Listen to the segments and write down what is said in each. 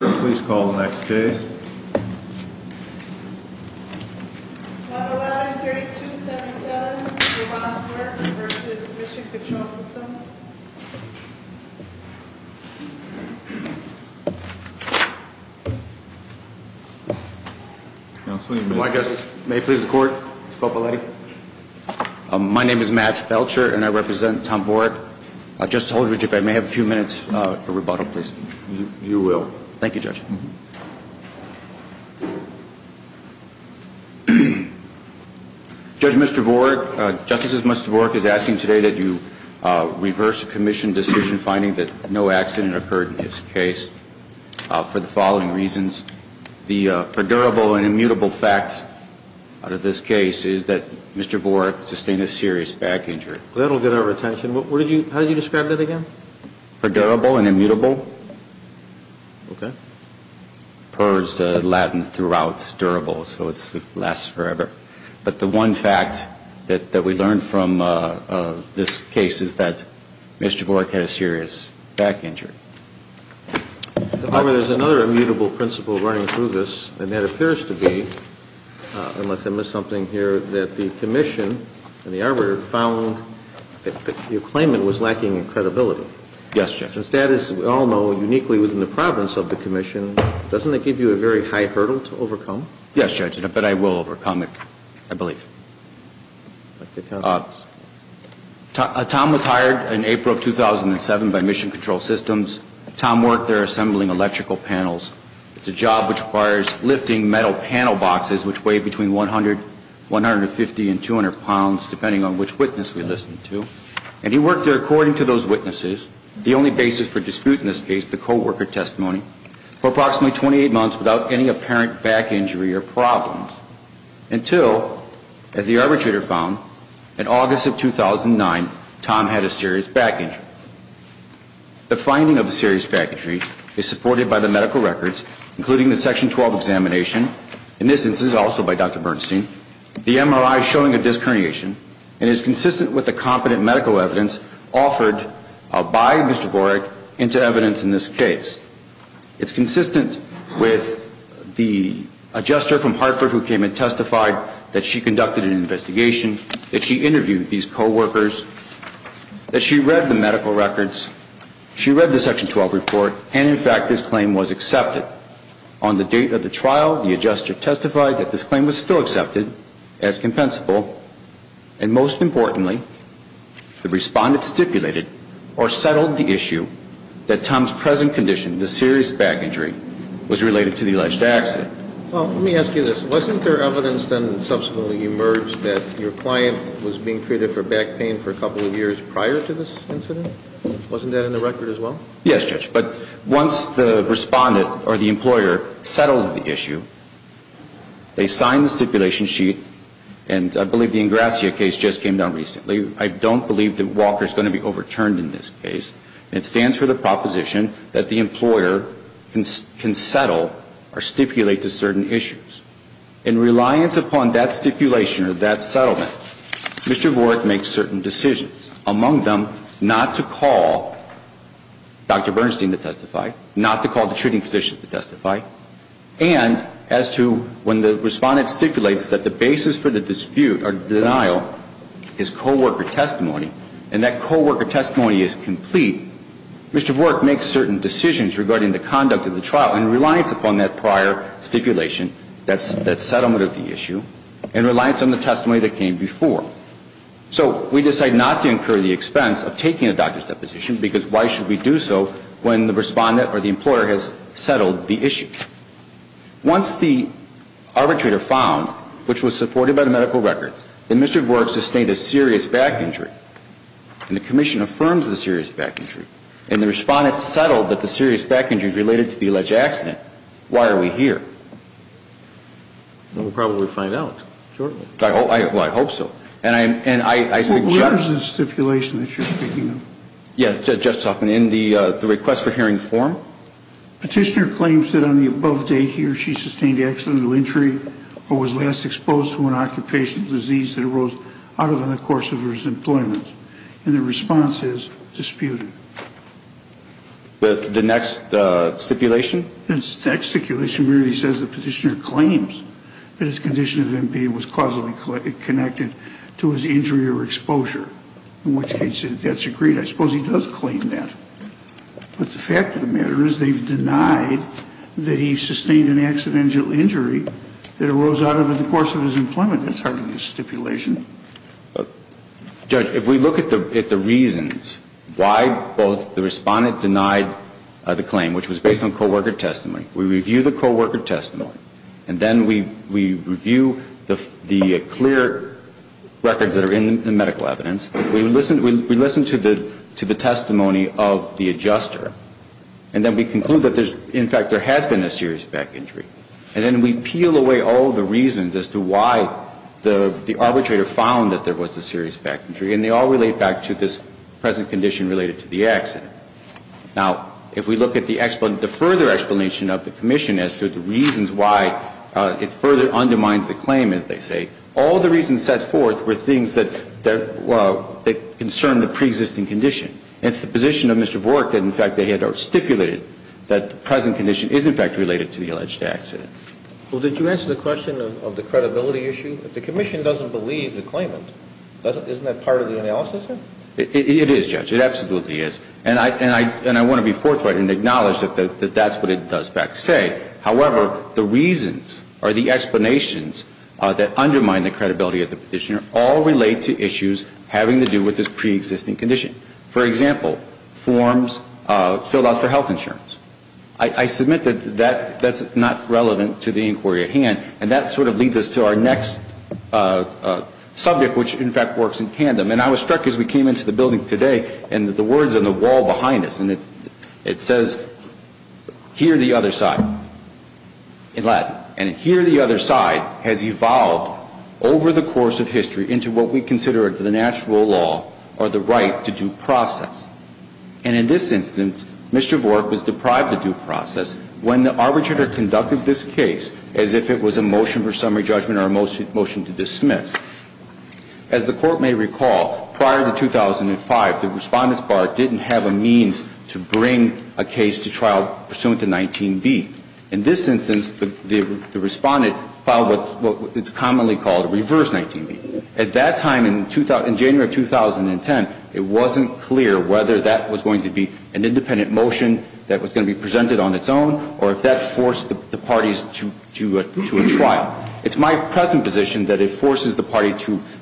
Please call the next case. Model 9-3277, Roboto-Skwerk v. Mission Control Systems. Counsel, you may begin. My guest, may it please the Court, Mr. Popoletti. My name is Matt Felcher and I represent Tom Worek. I just told you, if I may have a few minutes for rebuttal, please. You will. Thank you, Judge. Judge, Mr. Worek, Justice's Mr. Worek is asking today that you reverse the Commission decision finding that no accident occurred in his case for the following reasons. The predurable and immutable facts out of this case is that Mr. Worek sustained a serious back injury. That will get our attention. How do you describe that again? Predurable and immutable? Okay. Per is the Latin throughout, durable, so it lasts forever. But the one fact that we learned from this case is that Mr. Worek had a serious back injury. There's another immutable principle running through this, and that appears to be, unless I missed something here, that the Commission and the arbiter found that your claimant was lacking in credibility. Yes, Judge. Since that is, as we all know, uniquely within the province of the Commission, doesn't that give you a very high hurdle to overcome? Yes, Judge, but I will overcome it, I believe. Tom was hired in April of 2007 by Mission Control Systems. Tom Worek there assembling electrical panels. It's a job which requires lifting metal panel boxes which weigh between 100, 150, and 200 pounds, depending on which witness we listen to. And he worked there, according to those witnesses, the only basis for dispute in this case, the co-worker testimony, for approximately 28 months without any apparent back injury or problems, until, as the arbitrator found, in August of 2009, Tom had a serious back injury. The finding of a serious back injury is supported by the medical records, including the Section 12 examination, in this instance also by Dr. Bernstein, the MRI showing a disc herniation, and is consistent with the competent medical evidence offered by Mr. Worek into evidence in this case. It's consistent with the adjuster from Hartford who came and testified that she conducted an investigation, that she interviewed these co-workers, that she read the medical records, she read the Section 12 report, and, in fact, this claim was accepted. On the date of the trial, the adjuster testified that this claim was still accepted as compensable, and most importantly, the Respondent stipulated or settled the issue that Tom's present condition, the serious back injury, was related to the alleged accident. Well, let me ask you this. Wasn't there evidence then subsequently emerged that your client was being treated for back pain for a couple of years prior to this incident? Wasn't that in the record as well? Yes, Judge. But once the Respondent or the employer settles the issue, they sign the stipulation sheet, and I believe the Ingrassia case just came down recently. I don't believe that Walker is going to be overturned in this case. And it stands for the proposition that the employer can settle or stipulate to certain issues. In reliance upon that stipulation or that settlement, Mr. Vorek makes certain decisions, among them not to call Dr. Bernstein to testify, not to call the treating physician to testify, and as to when the Respondent stipulates that the basis for the dispute or denial is co-worker testimony, and that co-worker testimony is complete, Mr. Vorek makes certain decisions regarding the conduct of the trial in reliance upon that prior stipulation, that settlement of the issue, in reliance on the testimony that came before. So we decide not to incur the expense of taking a doctor's deposition, because why should we do so when the Respondent or the employer has settled the issue? Once the arbitrator found, which was supported by the medical records, that Mr. Vorek sustained a serious back injury, and the Commission affirms the serious back injury, and the Respondent settled that the serious back injury is related to the alleged accident, why are we here? We'll probably find out shortly. I hope so. And I suggest ñ What is the stipulation that you're speaking of? Yeah, Justice Hoffman, in the request for hearing form. Petitioner claims that on the above date here she sustained accidental injury or was last exposed to an occupational disease that arose out of the course of her employment, and the response is disputed. The next stipulation? The next stipulation really says the petitioner claims that his condition of MPA was causally connected to his injury or exposure, in which case that's agreed. I suppose he does claim that. But the fact of the matter is they've denied that he sustained an accidental injury that arose out of the course of his employment. That's hardly a stipulation. Judge, if we look at the reasons why both the Respondent denied the claim, which was based on co-worker testimony, we review the co-worker testimony, and then we review the clear records that are in the medical evidence. We listen to the testimony of the adjuster, and then we conclude that, in fact, there has been a serious back injury. And then we peel away all the reasons as to why the arbitrator found that there was a serious back injury, and they all relate back to this present condition related to the accident. Now, if we look at the further explanation of the commission as to the reasons why it further undermines the claim, as they say, all the reasons set forth were things that concern the preexisting condition. It's the position of Mr. Vork that, in fact, they had stipulated that the present condition is, in fact, related to the alleged accident. Well, did you answer the question of the credibility issue? If the commission doesn't believe the claimant, isn't that part of the analysis, sir? It is, Judge. It absolutely is. And I want to be forthright and acknowledge that that's what it does back say. However, the reasons or the explanations that undermine the credibility of the petitioner all relate to issues having to do with this preexisting condition. For example, forms filled out for health insurance. I submit that that's not relevant to the inquiry at hand, and that sort of leads us to our next subject, which, in fact, works in tandem. And I was struck as we came into the building today, and the words on the wall behind us, and it says, here the other side, in Latin. And here the other side has evolved over the course of history into what we consider the natural law or the right to due process. And in this instance, Mr. Vork was deprived of due process when the arbitrator conducted this case as if it was a motion for summary judgment or a motion to dismiss. As the Court may recall, prior to 2005, the Respondent's Bar didn't have a means to bring a case to trial pursuant to 19B. In this instance, the Respondent filed what is commonly called reverse 19B. At that time in January of 2010, it wasn't clear whether that was going to be an independent motion that was going to be presented on its own or if that forced the parties to a trial. It's my present position that it forces the party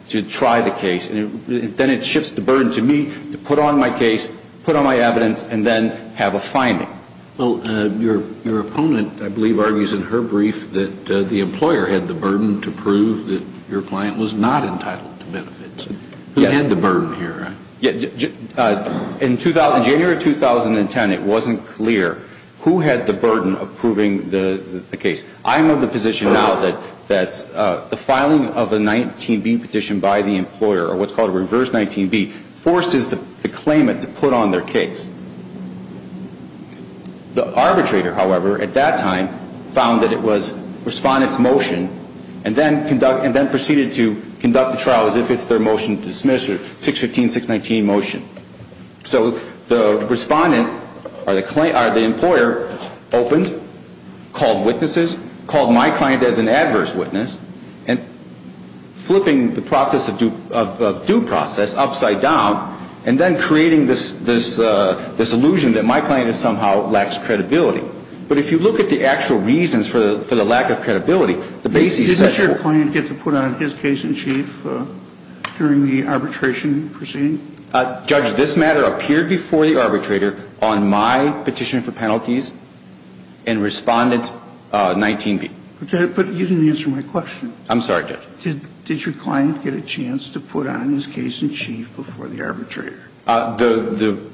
to try the case, and then it shifts the burden to me to put on my case, put on my evidence, and then have a finding. Well, your opponent, I believe, argues in her brief that the employer had the burden to prove that your client was not entitled to benefits. Who had the burden here? In January of 2010, it wasn't clear who had the burden of proving the case. I'm of the position now that the filing of a 19B petition by the employer, or what's called a reverse 19B, forces the claimant to put on their case. The arbitrator, however, at that time found that it was Respondent's motion and then proceeded to conduct the trial as if it's their motion to dismiss or 615-619 motion. So the Respondent, or the employer, opened, called witnesses, called my client as an adverse witness, and flipping the process of due process upside down and then creating this illusion that my client somehow lacks credibility. But if you look at the actual reasons for the lack of credibility, the basis set for... Did your client get to put on his case in chief during the arbitration proceeding? Judge, this matter appeared before the arbitrator on my petition for penalties and Respondent's 19B. But you didn't answer my question. I'm sorry, Judge. Did your client get a chance to put on his case in chief before the arbitrator? The...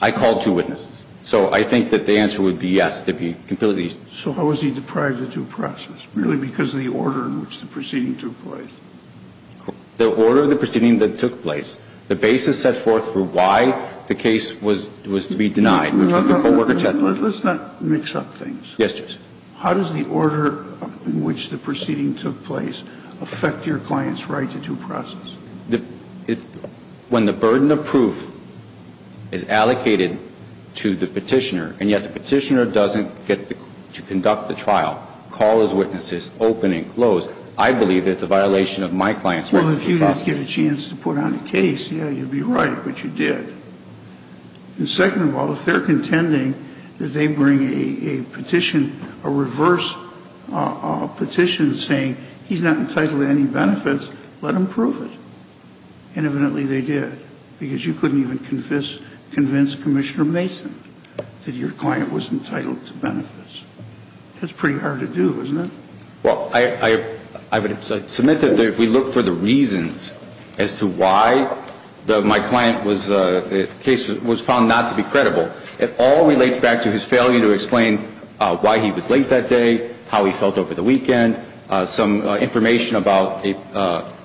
I called two witnesses. So I think that the answer would be yes. So how was he deprived of due process? Merely because of the order in which the proceeding took place? The order of the proceeding that took place? The basis set forth for why the case was to be denied? Let's not mix up things. Yes, Judge. How does the order in which the proceeding took place affect your client's right to due process? When the burden of proof is allocated to the Petitioner, and yet the Petitioner doesn't get to conduct the trial, call his witnesses, open and close, I believe it's a violation of my client's rights to due process. Well, if you didn't get a chance to put on a case, yeah, you'd be right, but you did. And second of all, if they're contending that they bring a petition, a reverse petition saying he's not entitled to any benefits, let him prove it. And evidently they did, because you couldn't even convince Commissioner Mason that your client was entitled to benefits. That's pretty hard to do, isn't it? Well, I would submit that if we look for the reasons as to why my client was found not to be credible, it all relates back to his failure to explain why he was late that day, how he felt over the weekend, some information about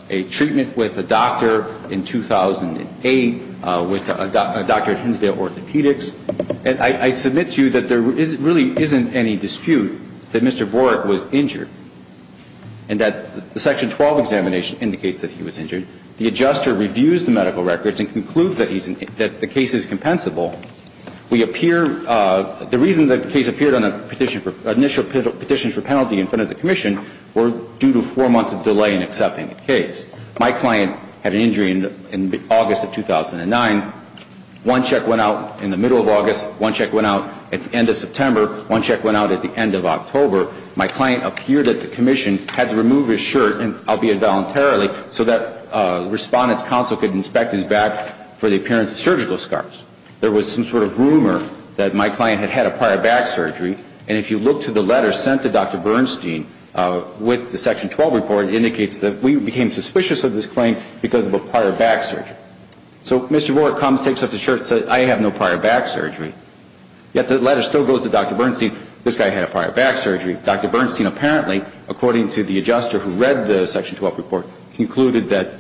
a treatment with a doctor in 2008 with a doctor at Hinsdale Orthopedics. And I submit to you that there really isn't any dispute that Mr. Vorek was injured and that the Section 12 examination indicates that he was injured. The adjuster reviews the medical records and concludes that the case is compensable. We appear the reason that the case appeared on a petition for initial petition for penalty in front of the commission were due to four months of delay in accepting the case. My client had an injury in August of 2009. One check went out in the middle of August. One check went out at the end of September. One check went out at the end of October. My client appeared at the commission, had to remove his shirt, albeit voluntarily, so that Respondent's Counsel could inspect his back for the appearance of surgical scars. There was some sort of rumor that my client had had a prior back surgery. And if you look to the letter sent to Dr. Bernstein with the Section 12 report, it indicates that we became suspicious of this claim because of a prior back surgery. So Mr. Vorek comes, takes off his shirt and says, I have no prior back surgery. Yet the letter still goes to Dr. Bernstein, this guy had a prior back surgery. Dr. Bernstein apparently, according to the adjuster who read the Section 12 report, concluded that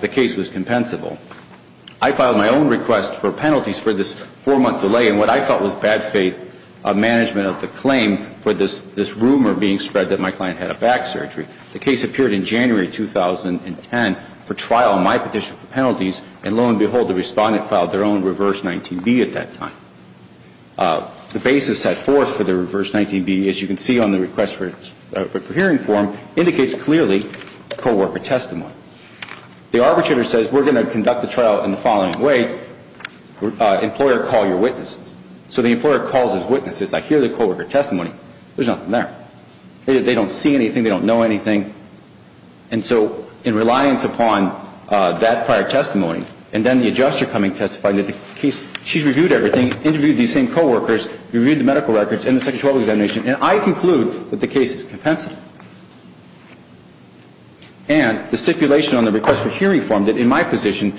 the case was compensable. I filed my own request for penalties for this four-month delay in what I felt was bad faith management of the claim for this rumor being spread that my client had a back surgery. The case appeared in January 2010 for trial on my petition for penalties, and lo and behold, the Respondent filed their own reverse 19B at that time. The basis set forth for the reverse 19B, as you can see on the request for hearing form, indicates clearly co-worker testimony. The arbitrator says we're going to conduct the trial in the following way. Employer, call your witnesses. So the employer calls his witnesses. I hear the co-worker testimony. There's nothing there. They don't see anything. They don't know anything. And so in reliance upon that prior testimony, and then the adjuster coming to testify, she's reviewed everything, interviewed these same co-workers, reviewed the medical records and the Section 12 examination, and I conclude that the case is compensable. And the stipulation on the request for hearing form that in my position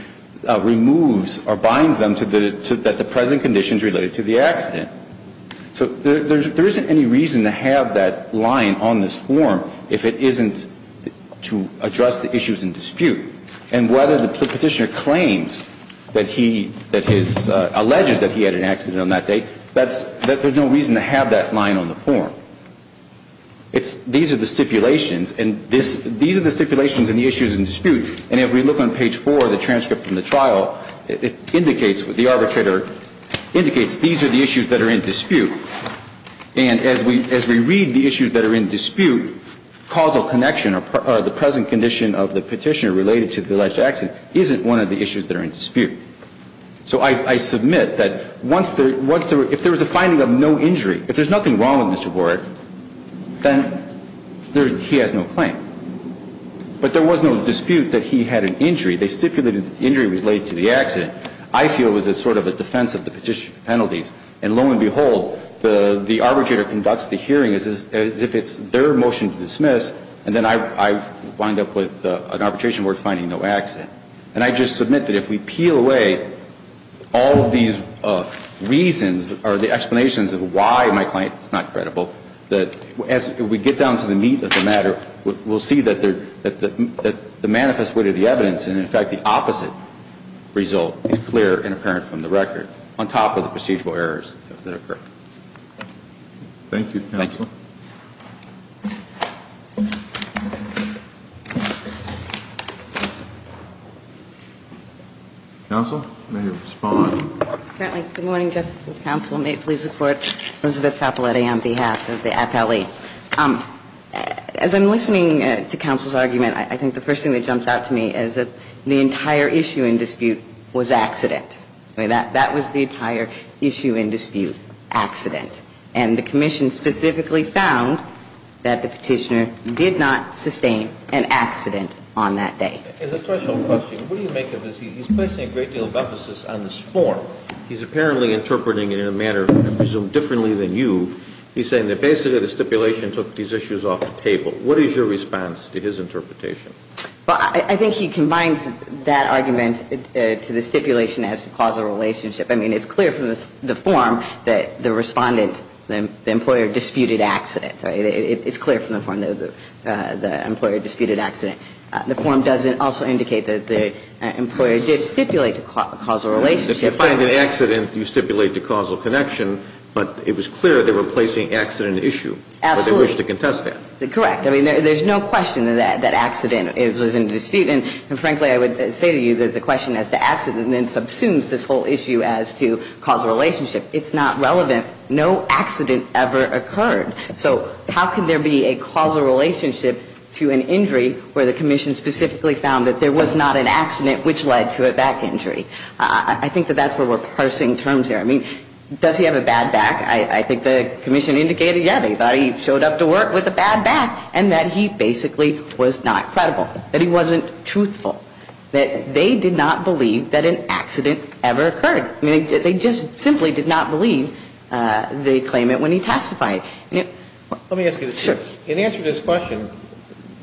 removes or binds them to the present conditions related to the accident. So there isn't any reason to have that line on this form if it isn't to address the issues in dispute. And whether the Petitioner claims that he, that his, alleges that he had an accident on that day, that's, there's no reason to have that line on the form. It's, these are the stipulations, and this, these are the stipulations and the issues in dispute, and if we look on page 4 of the transcript from the trial, it indicates, the arbitrator indicates these are the issues that are in dispute. And as we, as we read the issues that are in dispute, causal connection or the present condition of the Petitioner related to the alleged accident isn't one of the issues that are in dispute. So I, I submit that once there, once there, if there was a finding of no injury, if there's nothing wrong with Mr. Ward, then there, he has no claim. But there was no dispute that he had an injury. They stipulated that the injury was related to the accident. I feel it was a sort of a defense of the Petitioner's penalties. And lo and behold, the, the arbitrator conducts the hearing as if, as if it's their motion to dismiss, and then I, I wind up with an arbitration worth finding no accident. And I just submit that if we peel away all of these reasons or the explanations of why my client is not credible, that as we get down to the meat of the matter, we'll see that there, that the manifest weight of the evidence and in fact the opposite result is clear and apparent from the record, on top of the procedural errors that occur. Thank you, Counsel. Thank you. Counsel, may you respond? Certainly. Good morning, Justices of the Counsel. May it please the Court. Elizabeth Capoletti on behalf of the appellee. As I'm listening to Counsel's argument, I think the first thing that jumps out to me is that the entire issue in dispute was accident. I mean, that, that was the entire issue in dispute, accident. And the Commission specifically found that the Petitioner did not sustain an accident on that day. It's a special question. What do you make of this? He's placing a great deal of emphasis on this form. He's apparently interpreting it in a manner, I presume, differently than you. He's saying that basically the stipulation took these issues off the table. What is your response to his interpretation? Well, I think he combines that argument to the stipulation as to causal relationship. I mean, it's clear from the form that the Respondent, the employer, disputed accident. It's clear from the form that the employer disputed accident. The form doesn't also indicate that the employer did stipulate a causal relationship. If you find an accident, you stipulate the causal connection, but it was clear they were placing accident issue. Absolutely. Or they wish to contest that. Correct. I mean, there's no question that accident is in dispute. And frankly, I would say to you that the question as to accident then subsumes this whole issue as to causal relationship. It's not relevant. No accident ever occurred. So how can there be a causal relationship to an injury where the Commission specifically found that there was not an accident which led to a back injury? I think that that's where we're parsing terms here. I mean, does he have a bad back? I think the Commission indicated, yeah, they thought he showed up to work with a bad back and that he basically was not credible, that he wasn't truthful, that they did not believe that an accident ever occurred. I mean, they just simply did not believe the claimant when he testified. Let me ask you this. Sure. In answer to this question,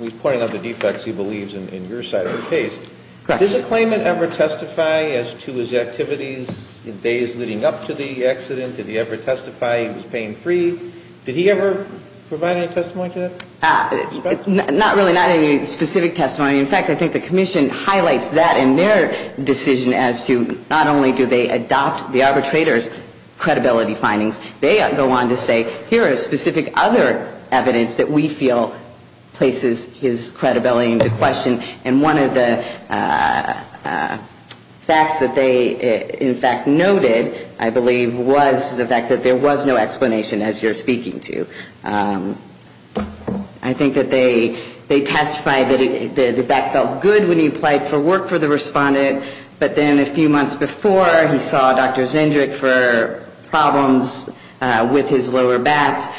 we pointed out the defects he believes in your side of the Correct. Did the claimant ever testify as to his activities in days leading up to the accident? Did he ever testify he was pain-free? Did he ever provide any testimony to that? Not really. Not any specific testimony. In fact, I think the Commission highlights that in their decision as to not only do they adopt the arbitrator's credibility findings, they go on to say, here is specific other evidence that we feel places his credibility into question. And one of the facts that they, in fact, noted, I believe, was the fact that there was no explanation, as you're speaking to. I think that they testified that the back felt good when he applied for work for the respondent, but then a few months before, he saw Dr. Zendrick for problems with his lower back.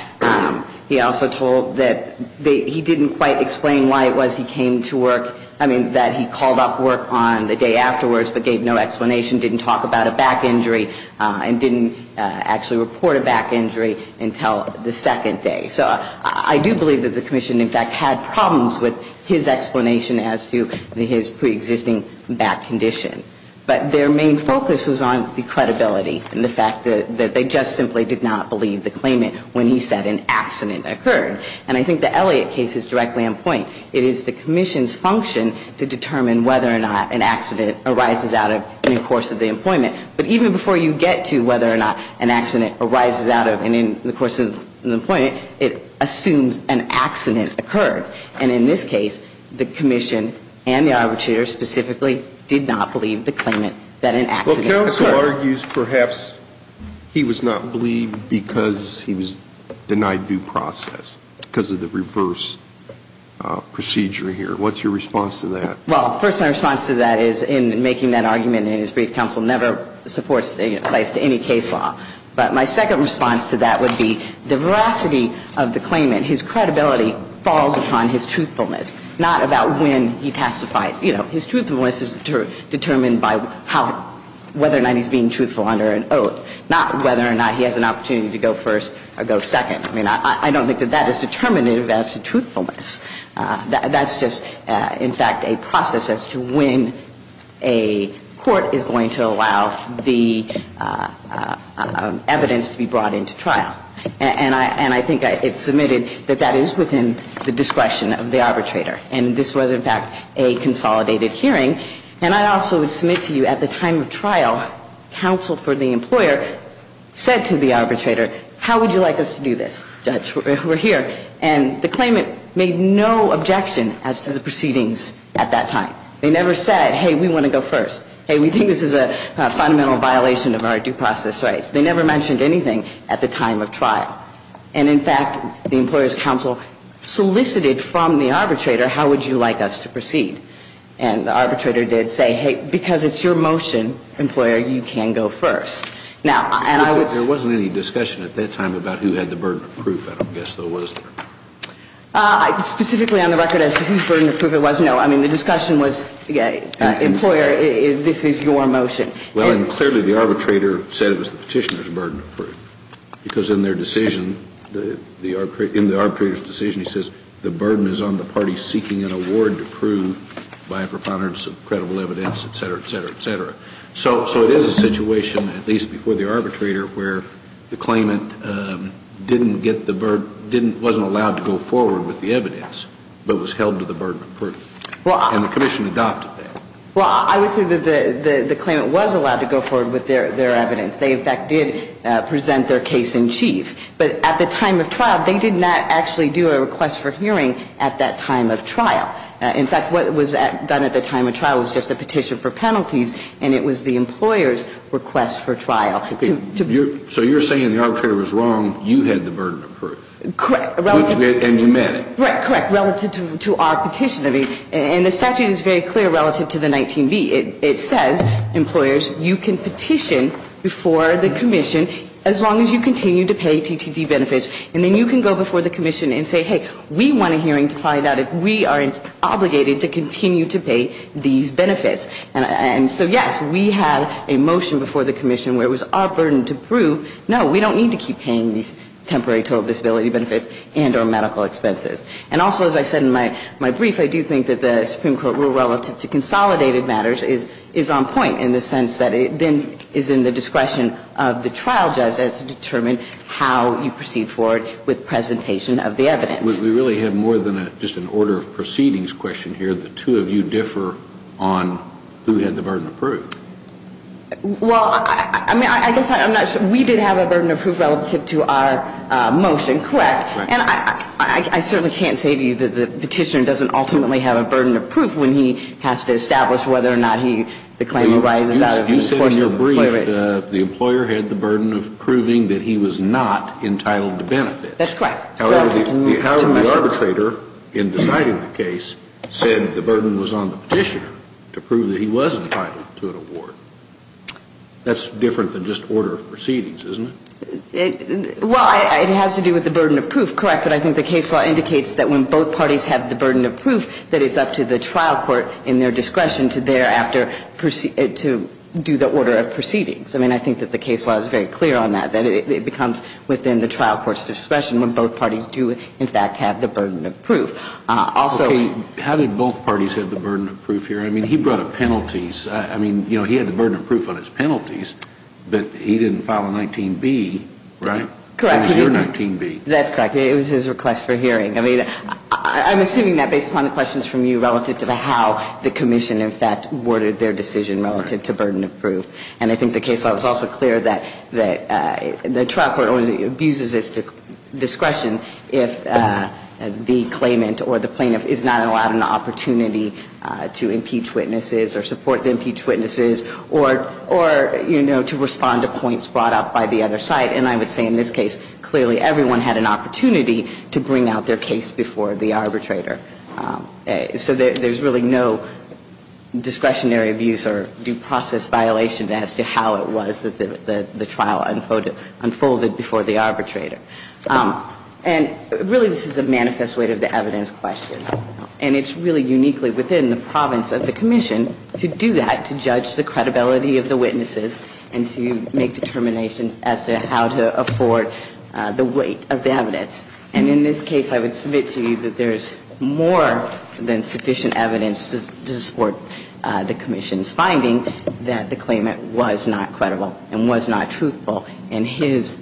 He also told that he didn't quite explain why it was he came to work with a back injury. I mean, that he called off work on the day afterwards but gave no explanation, didn't talk about a back injury, and didn't actually report a back injury until the second day. So I do believe that the Commission, in fact, had problems with his explanation as to his preexisting back condition. But their main focus was on the credibility and the fact that they just simply did not believe the claimant when he said an accident occurred. And I think the Elliott case is directly on point. It is the Commission's function to determine whether or not an accident arises out of and in the course of the employment. But even before you get to whether or not an accident arises out of and in the course of the employment, it assumes an accident occurred. And in this case, the Commission and the arbitrator specifically did not believe the claimant that an accident occurred. So the brief counsel argues perhaps he was not believed because he was denied due process because of the reverse procedure here. What's your response to that? Well, first my response to that is in making that argument in his brief counsel never supports, you know, cites to any case law. But my second response to that would be the veracity of the claimant, his credibility falls upon his truthfulness, not about when he testifies. You know, his truthfulness is determined by whether or not he's being truthful under an oath, not whether or not he has an opportunity to go first or go second. I mean, I don't think that that is determinative as to truthfulness. That's just, in fact, a process as to when a court is going to allow the evidence to be brought into trial. And I think it's submitted that that is within the discretion of the arbitrator. And this was, in fact, a consolidated hearing. And I also would submit to you at the time of trial, counsel for the employer said to the arbitrator, how would you like us to do this, judge? We're here. And the claimant made no objection as to the proceedings at that time. They never said, hey, we want to go first. Hey, we think this is a fundamental violation of our due process rights. They never mentioned anything at the time of trial. And, in fact, the employer's counsel solicited from the arbitrator, how would you like us to proceed? And the arbitrator did say, hey, because it's your motion, employer, you can go first. Now, and I was — There wasn't any discussion at that time about who had the burden of proof, I guess, though, was there? Specifically on the record as to whose burden of proof it was, no. I mean, the discussion was, employer, this is your motion. Well, and clearly the arbitrator said it was the Petitioner's burden of proof, because in their decision, in the arbitrator's decision, he says, the burden is on the party seeking an award to prove by a preponderance of credible evidence, et cetera, et cetera, et cetera. So it is a situation, at least before the arbitrator, where the claimant didn't get the — wasn't allowed to go forward with the evidence, but was held to the burden of proof. And the commission adopted that. Well, I would say that the claimant was allowed to go forward with their evidence. They, in fact, did present their case in chief. But at the time of trial, they did not actually do a request for hearing at that time of trial. In fact, what was done at the time of trial was just a petition for penalties, and it was the employer's request for trial. So you're saying the arbitrator was wrong, you had the burden of proof. Correct. And you meant it. Correct. Relative to our petition. I mean, and the statute is very clear relative to the 19B. It says, employers, you can petition before the commission as long as you continue to pay TTD benefits, and then you can go before the commission and say, hey, we want a hearing to find out if we are obligated to continue to pay these benefits. And so, yes, we had a motion before the commission where it was our burden to prove, no, we don't need to keep paying these temporary total disability benefits and our medical expenses. And also, as I said in my brief, I do think that the Supreme Court, relative to consolidated matters, is on point in the sense that it then is in the discretion of the trial judge as to determine how you proceed forward with presentation of the evidence. We really have more than just an order of proceedings question here. The two of you differ on who had the burden of proof. Well, I mean, I guess I'm not sure. We did have a burden of proof relative to our motion, correct? Correct. And I certainly can't say to you that the petitioner doesn't ultimately have a burden of proof when he has to establish whether or not he, the claimant rises out of the course of the play race. You said in your brief that the employer had the burden of proving that he was not entitled to benefits. That's correct. However, the arbitrator in deciding the case said the burden was on the petitioner to prove that he was entitled to an award. That's different than just order of proceedings, isn't it? Well, it has to do with the burden of proof, correct, but I think the case law indicates that when both parties have the burden of proof that it's up to the trial court in their discretion to thereafter do the order of proceedings. I mean, I think that the case law is very clear on that, that it becomes within the trial court's discretion when both parties do, in fact, have the burden of proof. Also ---- Okay. How did both parties have the burden of proof here? I mean, he brought up penalties. I mean, you know, he had the burden of proof on his penalties, but he didn't file a 19B, right? Correct. It was your 19B. That's correct. It was his request for hearing. I mean, I'm assuming that based upon the questions from you relative to how the commission in fact worded their decision relative to burden of proof. And I think the case law was also clear that the trial court only abuses its discretion if the claimant or the plaintiff is not allowed an opportunity to impeach witnesses or support the impeached witnesses or, you know, to respond to points brought up by the other side. And I would say in this case clearly everyone had an opportunity to bring out their case before the arbitrator. So there's really no discretionary abuse or due process violation as to how it was that the trial unfolded before the arbitrator. And really this is a manifest way of the evidence question. And it's really uniquely within the province of the commission to do that, to judge the credibility of the witnesses and to make determinations as to how to afford the weight of the evidence. And in this case I would submit to you that there's more than sufficient evidence to support the commission's finding that the claimant was not credible and was not truthful in his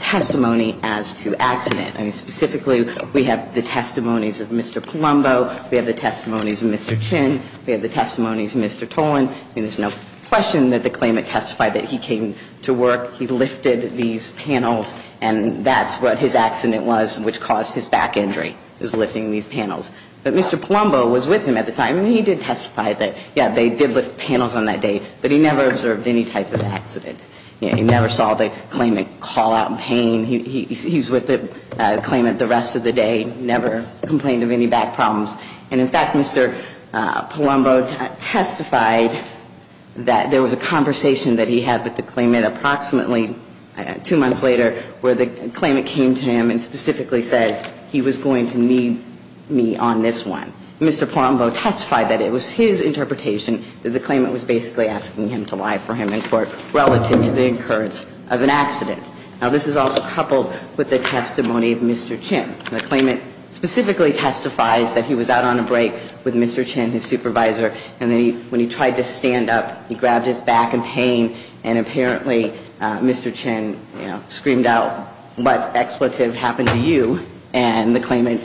testimony as to accident. I mean, specifically we have the testimonies of Mr. Palumbo, we have the testimonies of Mr. Chin. We have the testimonies of Mr. Tolan. I mean, there's no question that the claimant testified that he came to work, he lifted these panels, and that's what his accident was which caused his back injury, was lifting these panels. But Mr. Palumbo was with him at the time and he did testify that, yeah, they did lift panels on that day, but he never observed any type of accident. He never saw the claimant call out in pain. He's with the claimant the rest of the day, never complained of any back problems. And in fact, Mr. Palumbo testified that there was a conversation that he had with the claimant approximately two months later where the claimant came to him and specifically said he was going to need me on this one. Mr. Palumbo testified that it was his interpretation that the claimant was basically asking him to lie for him in court relative to the occurrence of an accident. Now, this is also coupled with the testimony of Mr. Chin. The claimant specifically testifies that he was out on a break with Mr. Chin, his supervisor, and when he tried to stand up, he grabbed his back in pain and apparently Mr. Chin screamed out, what expletive happened to you? And the claimant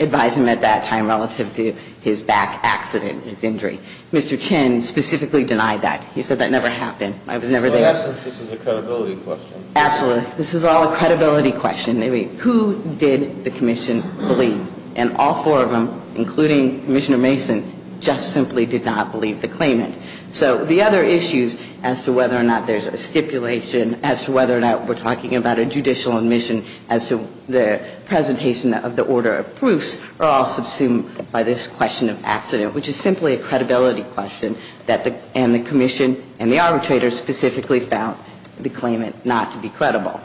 advised him at that time relative to his back accident, his injury. Mr. Chin specifically denied that. He said that never happened. I was never there. In essence, this is a credibility question. Absolutely. This is all a credibility question. Who did the commission believe? And all four of them, including Commissioner Mason, just simply did not believe the claimant. So the other issues as to whether or not there's a stipulation, as to whether or not we're talking about a judicial admission as to the presentation of the order of proofs are all subsumed by this question of accident, which is simply a credibility question that the commission and the arbitrator specifically found the claimant not to be credible.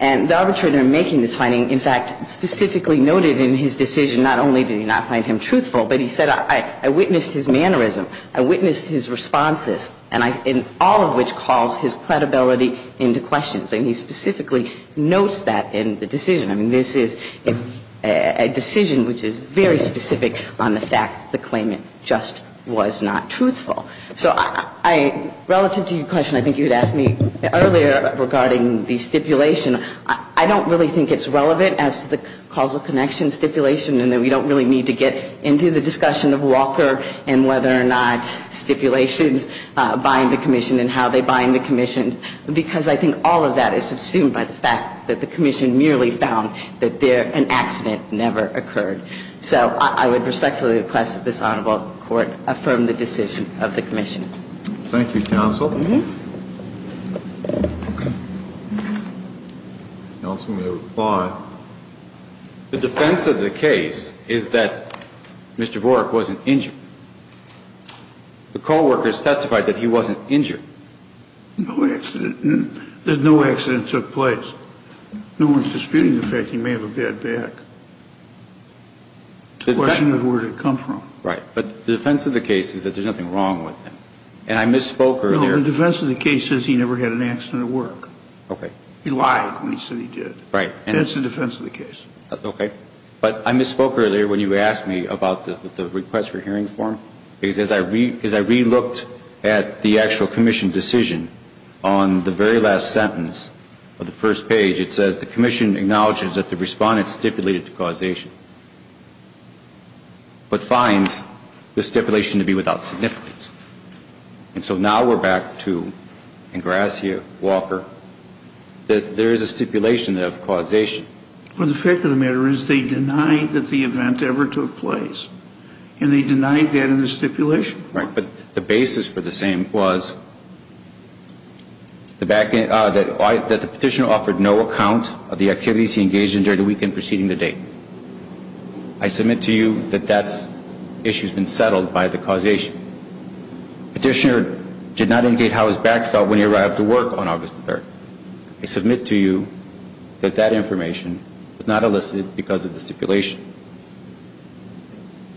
And the arbitrator making this finding, in fact, specifically noted in his decision not only did he not find him truthful, but he said I witnessed his mannerism, I witnessed his responses, and all of which calls his credibility into question. And he specifically notes that in the decision. I mean, this is a decision which is very specific on the fact the claimant just was not truthful. So relative to your question I think you had asked me earlier regarding the stipulation, I don't really think it's relevant as to the causal connection stipulation and that we don't really need to get into the discussion of Walker and whether or not stipulations bind the commission and how they bind the commission because I think all of that is subsumed by the fact that the commission merely found that an accident never occurred. So I would respectfully request that this honorable court affirm the decision of the commission. Thank you, counsel. Counsel may reply. The defense of the case is that Mr. Vorek wasn't injured. The coworkers testified that he wasn't injured. No accident, that no accident took place. No one is disputing the fact he may have a bad back. The question is where did it come from? Right. But the defense of the case is that there's nothing wrong with him. And I misspoke earlier. No, the defense of the case says he never had an accident at work. Okay. He lied when he said he did. Right. And that's the defense of the case. Okay. But I misspoke earlier when you asked me about the request for hearing form because as I relooked at the actual commission decision on the very last sentence of the first page, it says the commission acknowledges that the respondent stipulated causation but finds the stipulation to be without significance. And so now we're back to Ingrassia, Walker, that there is a stipulation of causation. Well, the fact of the matter is they denied that the event ever took place. And they denied that in the stipulation. Right. But the basis for the same was that the petitioner offered no account of the activities he engaged in during the weekend preceding the date. I submit to you that that issue has been settled by the causation. Petitioner did not indicate how his back felt when he arrived to work on August 3rd. I submit to you that that information was not elicited because of the stipulation.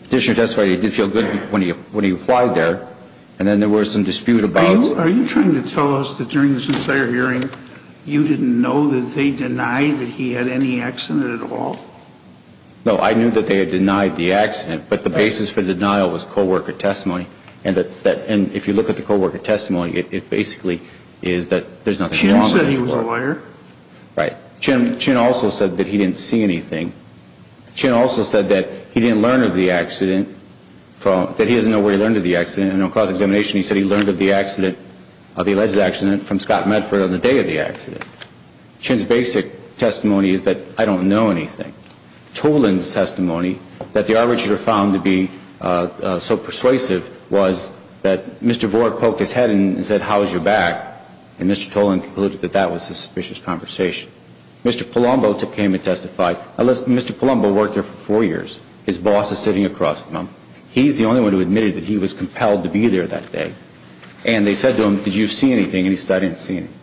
Petitioner testified he did feel good when he applied there. And then there were some dispute about it. Are you trying to tell us that during this entire hearing, you didn't know that they denied that he had any accident at all? No, I knew that they had denied the accident. But the basis for denial was co-worker testimony. And if you look at the co-worker testimony, it basically is that there's nothing wrong with it. Chin said he was a lawyer. Right. Chin also said that he didn't see anything. Chin also said that he didn't learn of the accident, that he doesn't know where he learned of the accident. And on cross-examination, he said he learned of the alleged accident from Scott Medford on the day of the accident. Chin's basic testimony is that I don't know anything. Toland's testimony, that the arbitrator found to be so persuasive, was that Mr. Voort poked his head and said, how's your back? And Mr. Toland concluded that that was a suspicious conversation. Mr. Palumbo came and testified. Mr. Palumbo worked there for four years. His boss is sitting across from him. He's the only one who admitted that he was compelled to be there that day. And they said to him, did you see anything? And he said, I didn't see anything.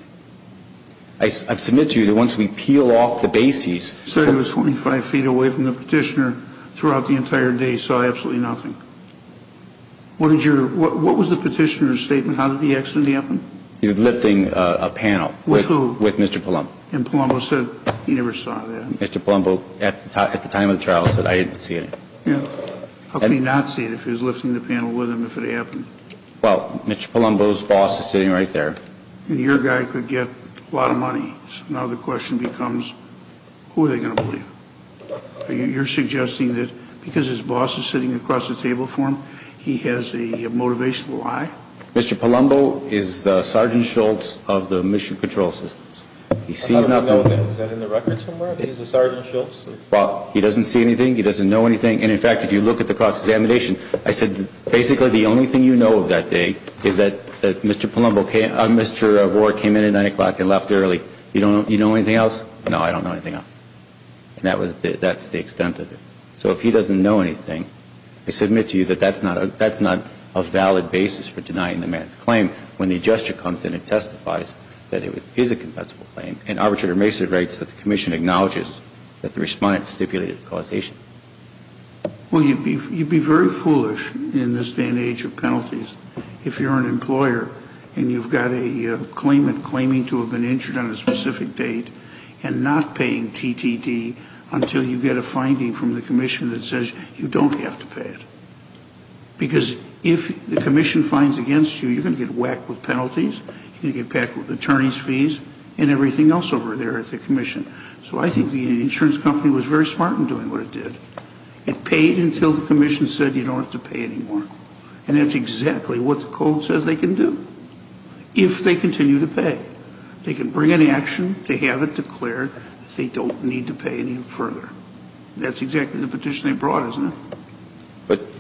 I submit to you that once we peel off the bases. Sir, he was 25 feet away from the petitioner throughout the entire day, saw absolutely nothing. What was the petitioner's statement? How did the accident happen? He was lifting a panel. With who? With Mr. Palumbo. And Palumbo said he never saw that. Mr. Palumbo, at the time of the trial, said I didn't see anything. Yeah. How could he not see it if he was lifting the panel with him if it happened? Well, Mr. Palumbo's boss is sitting right there. And your guy could get a lot of money. So now the question becomes, who are they going to believe? You're suggesting that because his boss is sitting across the table from him, he has a motivational eye? Mr. Palumbo is the Sergeant Shultz of the Mission Control Systems. He sees nothing. Is that in the record somewhere? He's a Sergeant Shultz? Well, he doesn't see anything. He doesn't know anything. And, in fact, if you look at the cross-examination, I said basically the only thing you know of that day is that Mr. Palumbo came in at 9 o'clock and left early. You know anything else? No, I don't know anything else. And that's the extent of it. So if he doesn't know anything, I submit to you that that's not a valid basis for denying the man's claim. When the adjuster comes in and testifies that it is a compensable claim, an arbitrator makes it right so the commission acknowledges that the Respondent stipulated causation. Well, you'd be very foolish in this day and age of penalties if you're an employer and you've got a claimant claiming to have been injured on a specific date and not paying TTT until you get a finding from the commission that says you don't have to pay it. Because if the commission finds against you, you're going to get whacked with penalties. You're going to get whacked with attorney's fees and everything else over there at the commission. So I think the insurance company was very smart in doing what it did. It paid until the commission said you don't have to pay anymore. And that's exactly what the code says they can do if they continue to pay. They can bring an action, they have it declared, they don't need to pay any further. That's exactly the petition they brought, isn't it?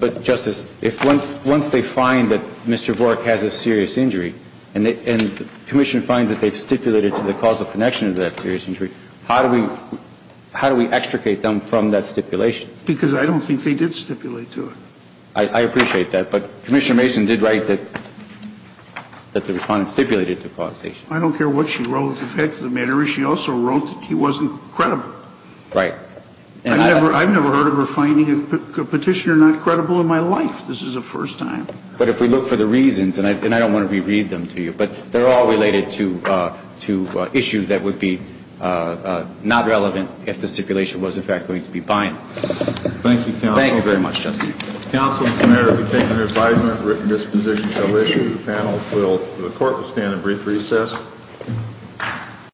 But, Justice, if once they find that Mr. Vorek has a serious injury and the commission finds that they've stipulated to the causal connection of that serious injury, how do we extricate them from that stipulation? Because I don't think they did stipulate to it. I appreciate that. But Commissioner Mason did write that the Respondent stipulated to causation. I don't care what she wrote. The fact of the matter is she also wrote that he wasn't credible. Right. And I've never heard of her finding a petitioner not credible in my life. This is the first time. But if we look for the reasons, and I don't want to reread them to you, but they're all related to issues that would be not relevant if the stipulation was, in fact, going to be binding. Thank you, Counsel. Thank you very much, Justice. Counsel, as a matter of opinion and advisement, written disposition shall issue. Thank you, panel. The Court will stand in brief recess.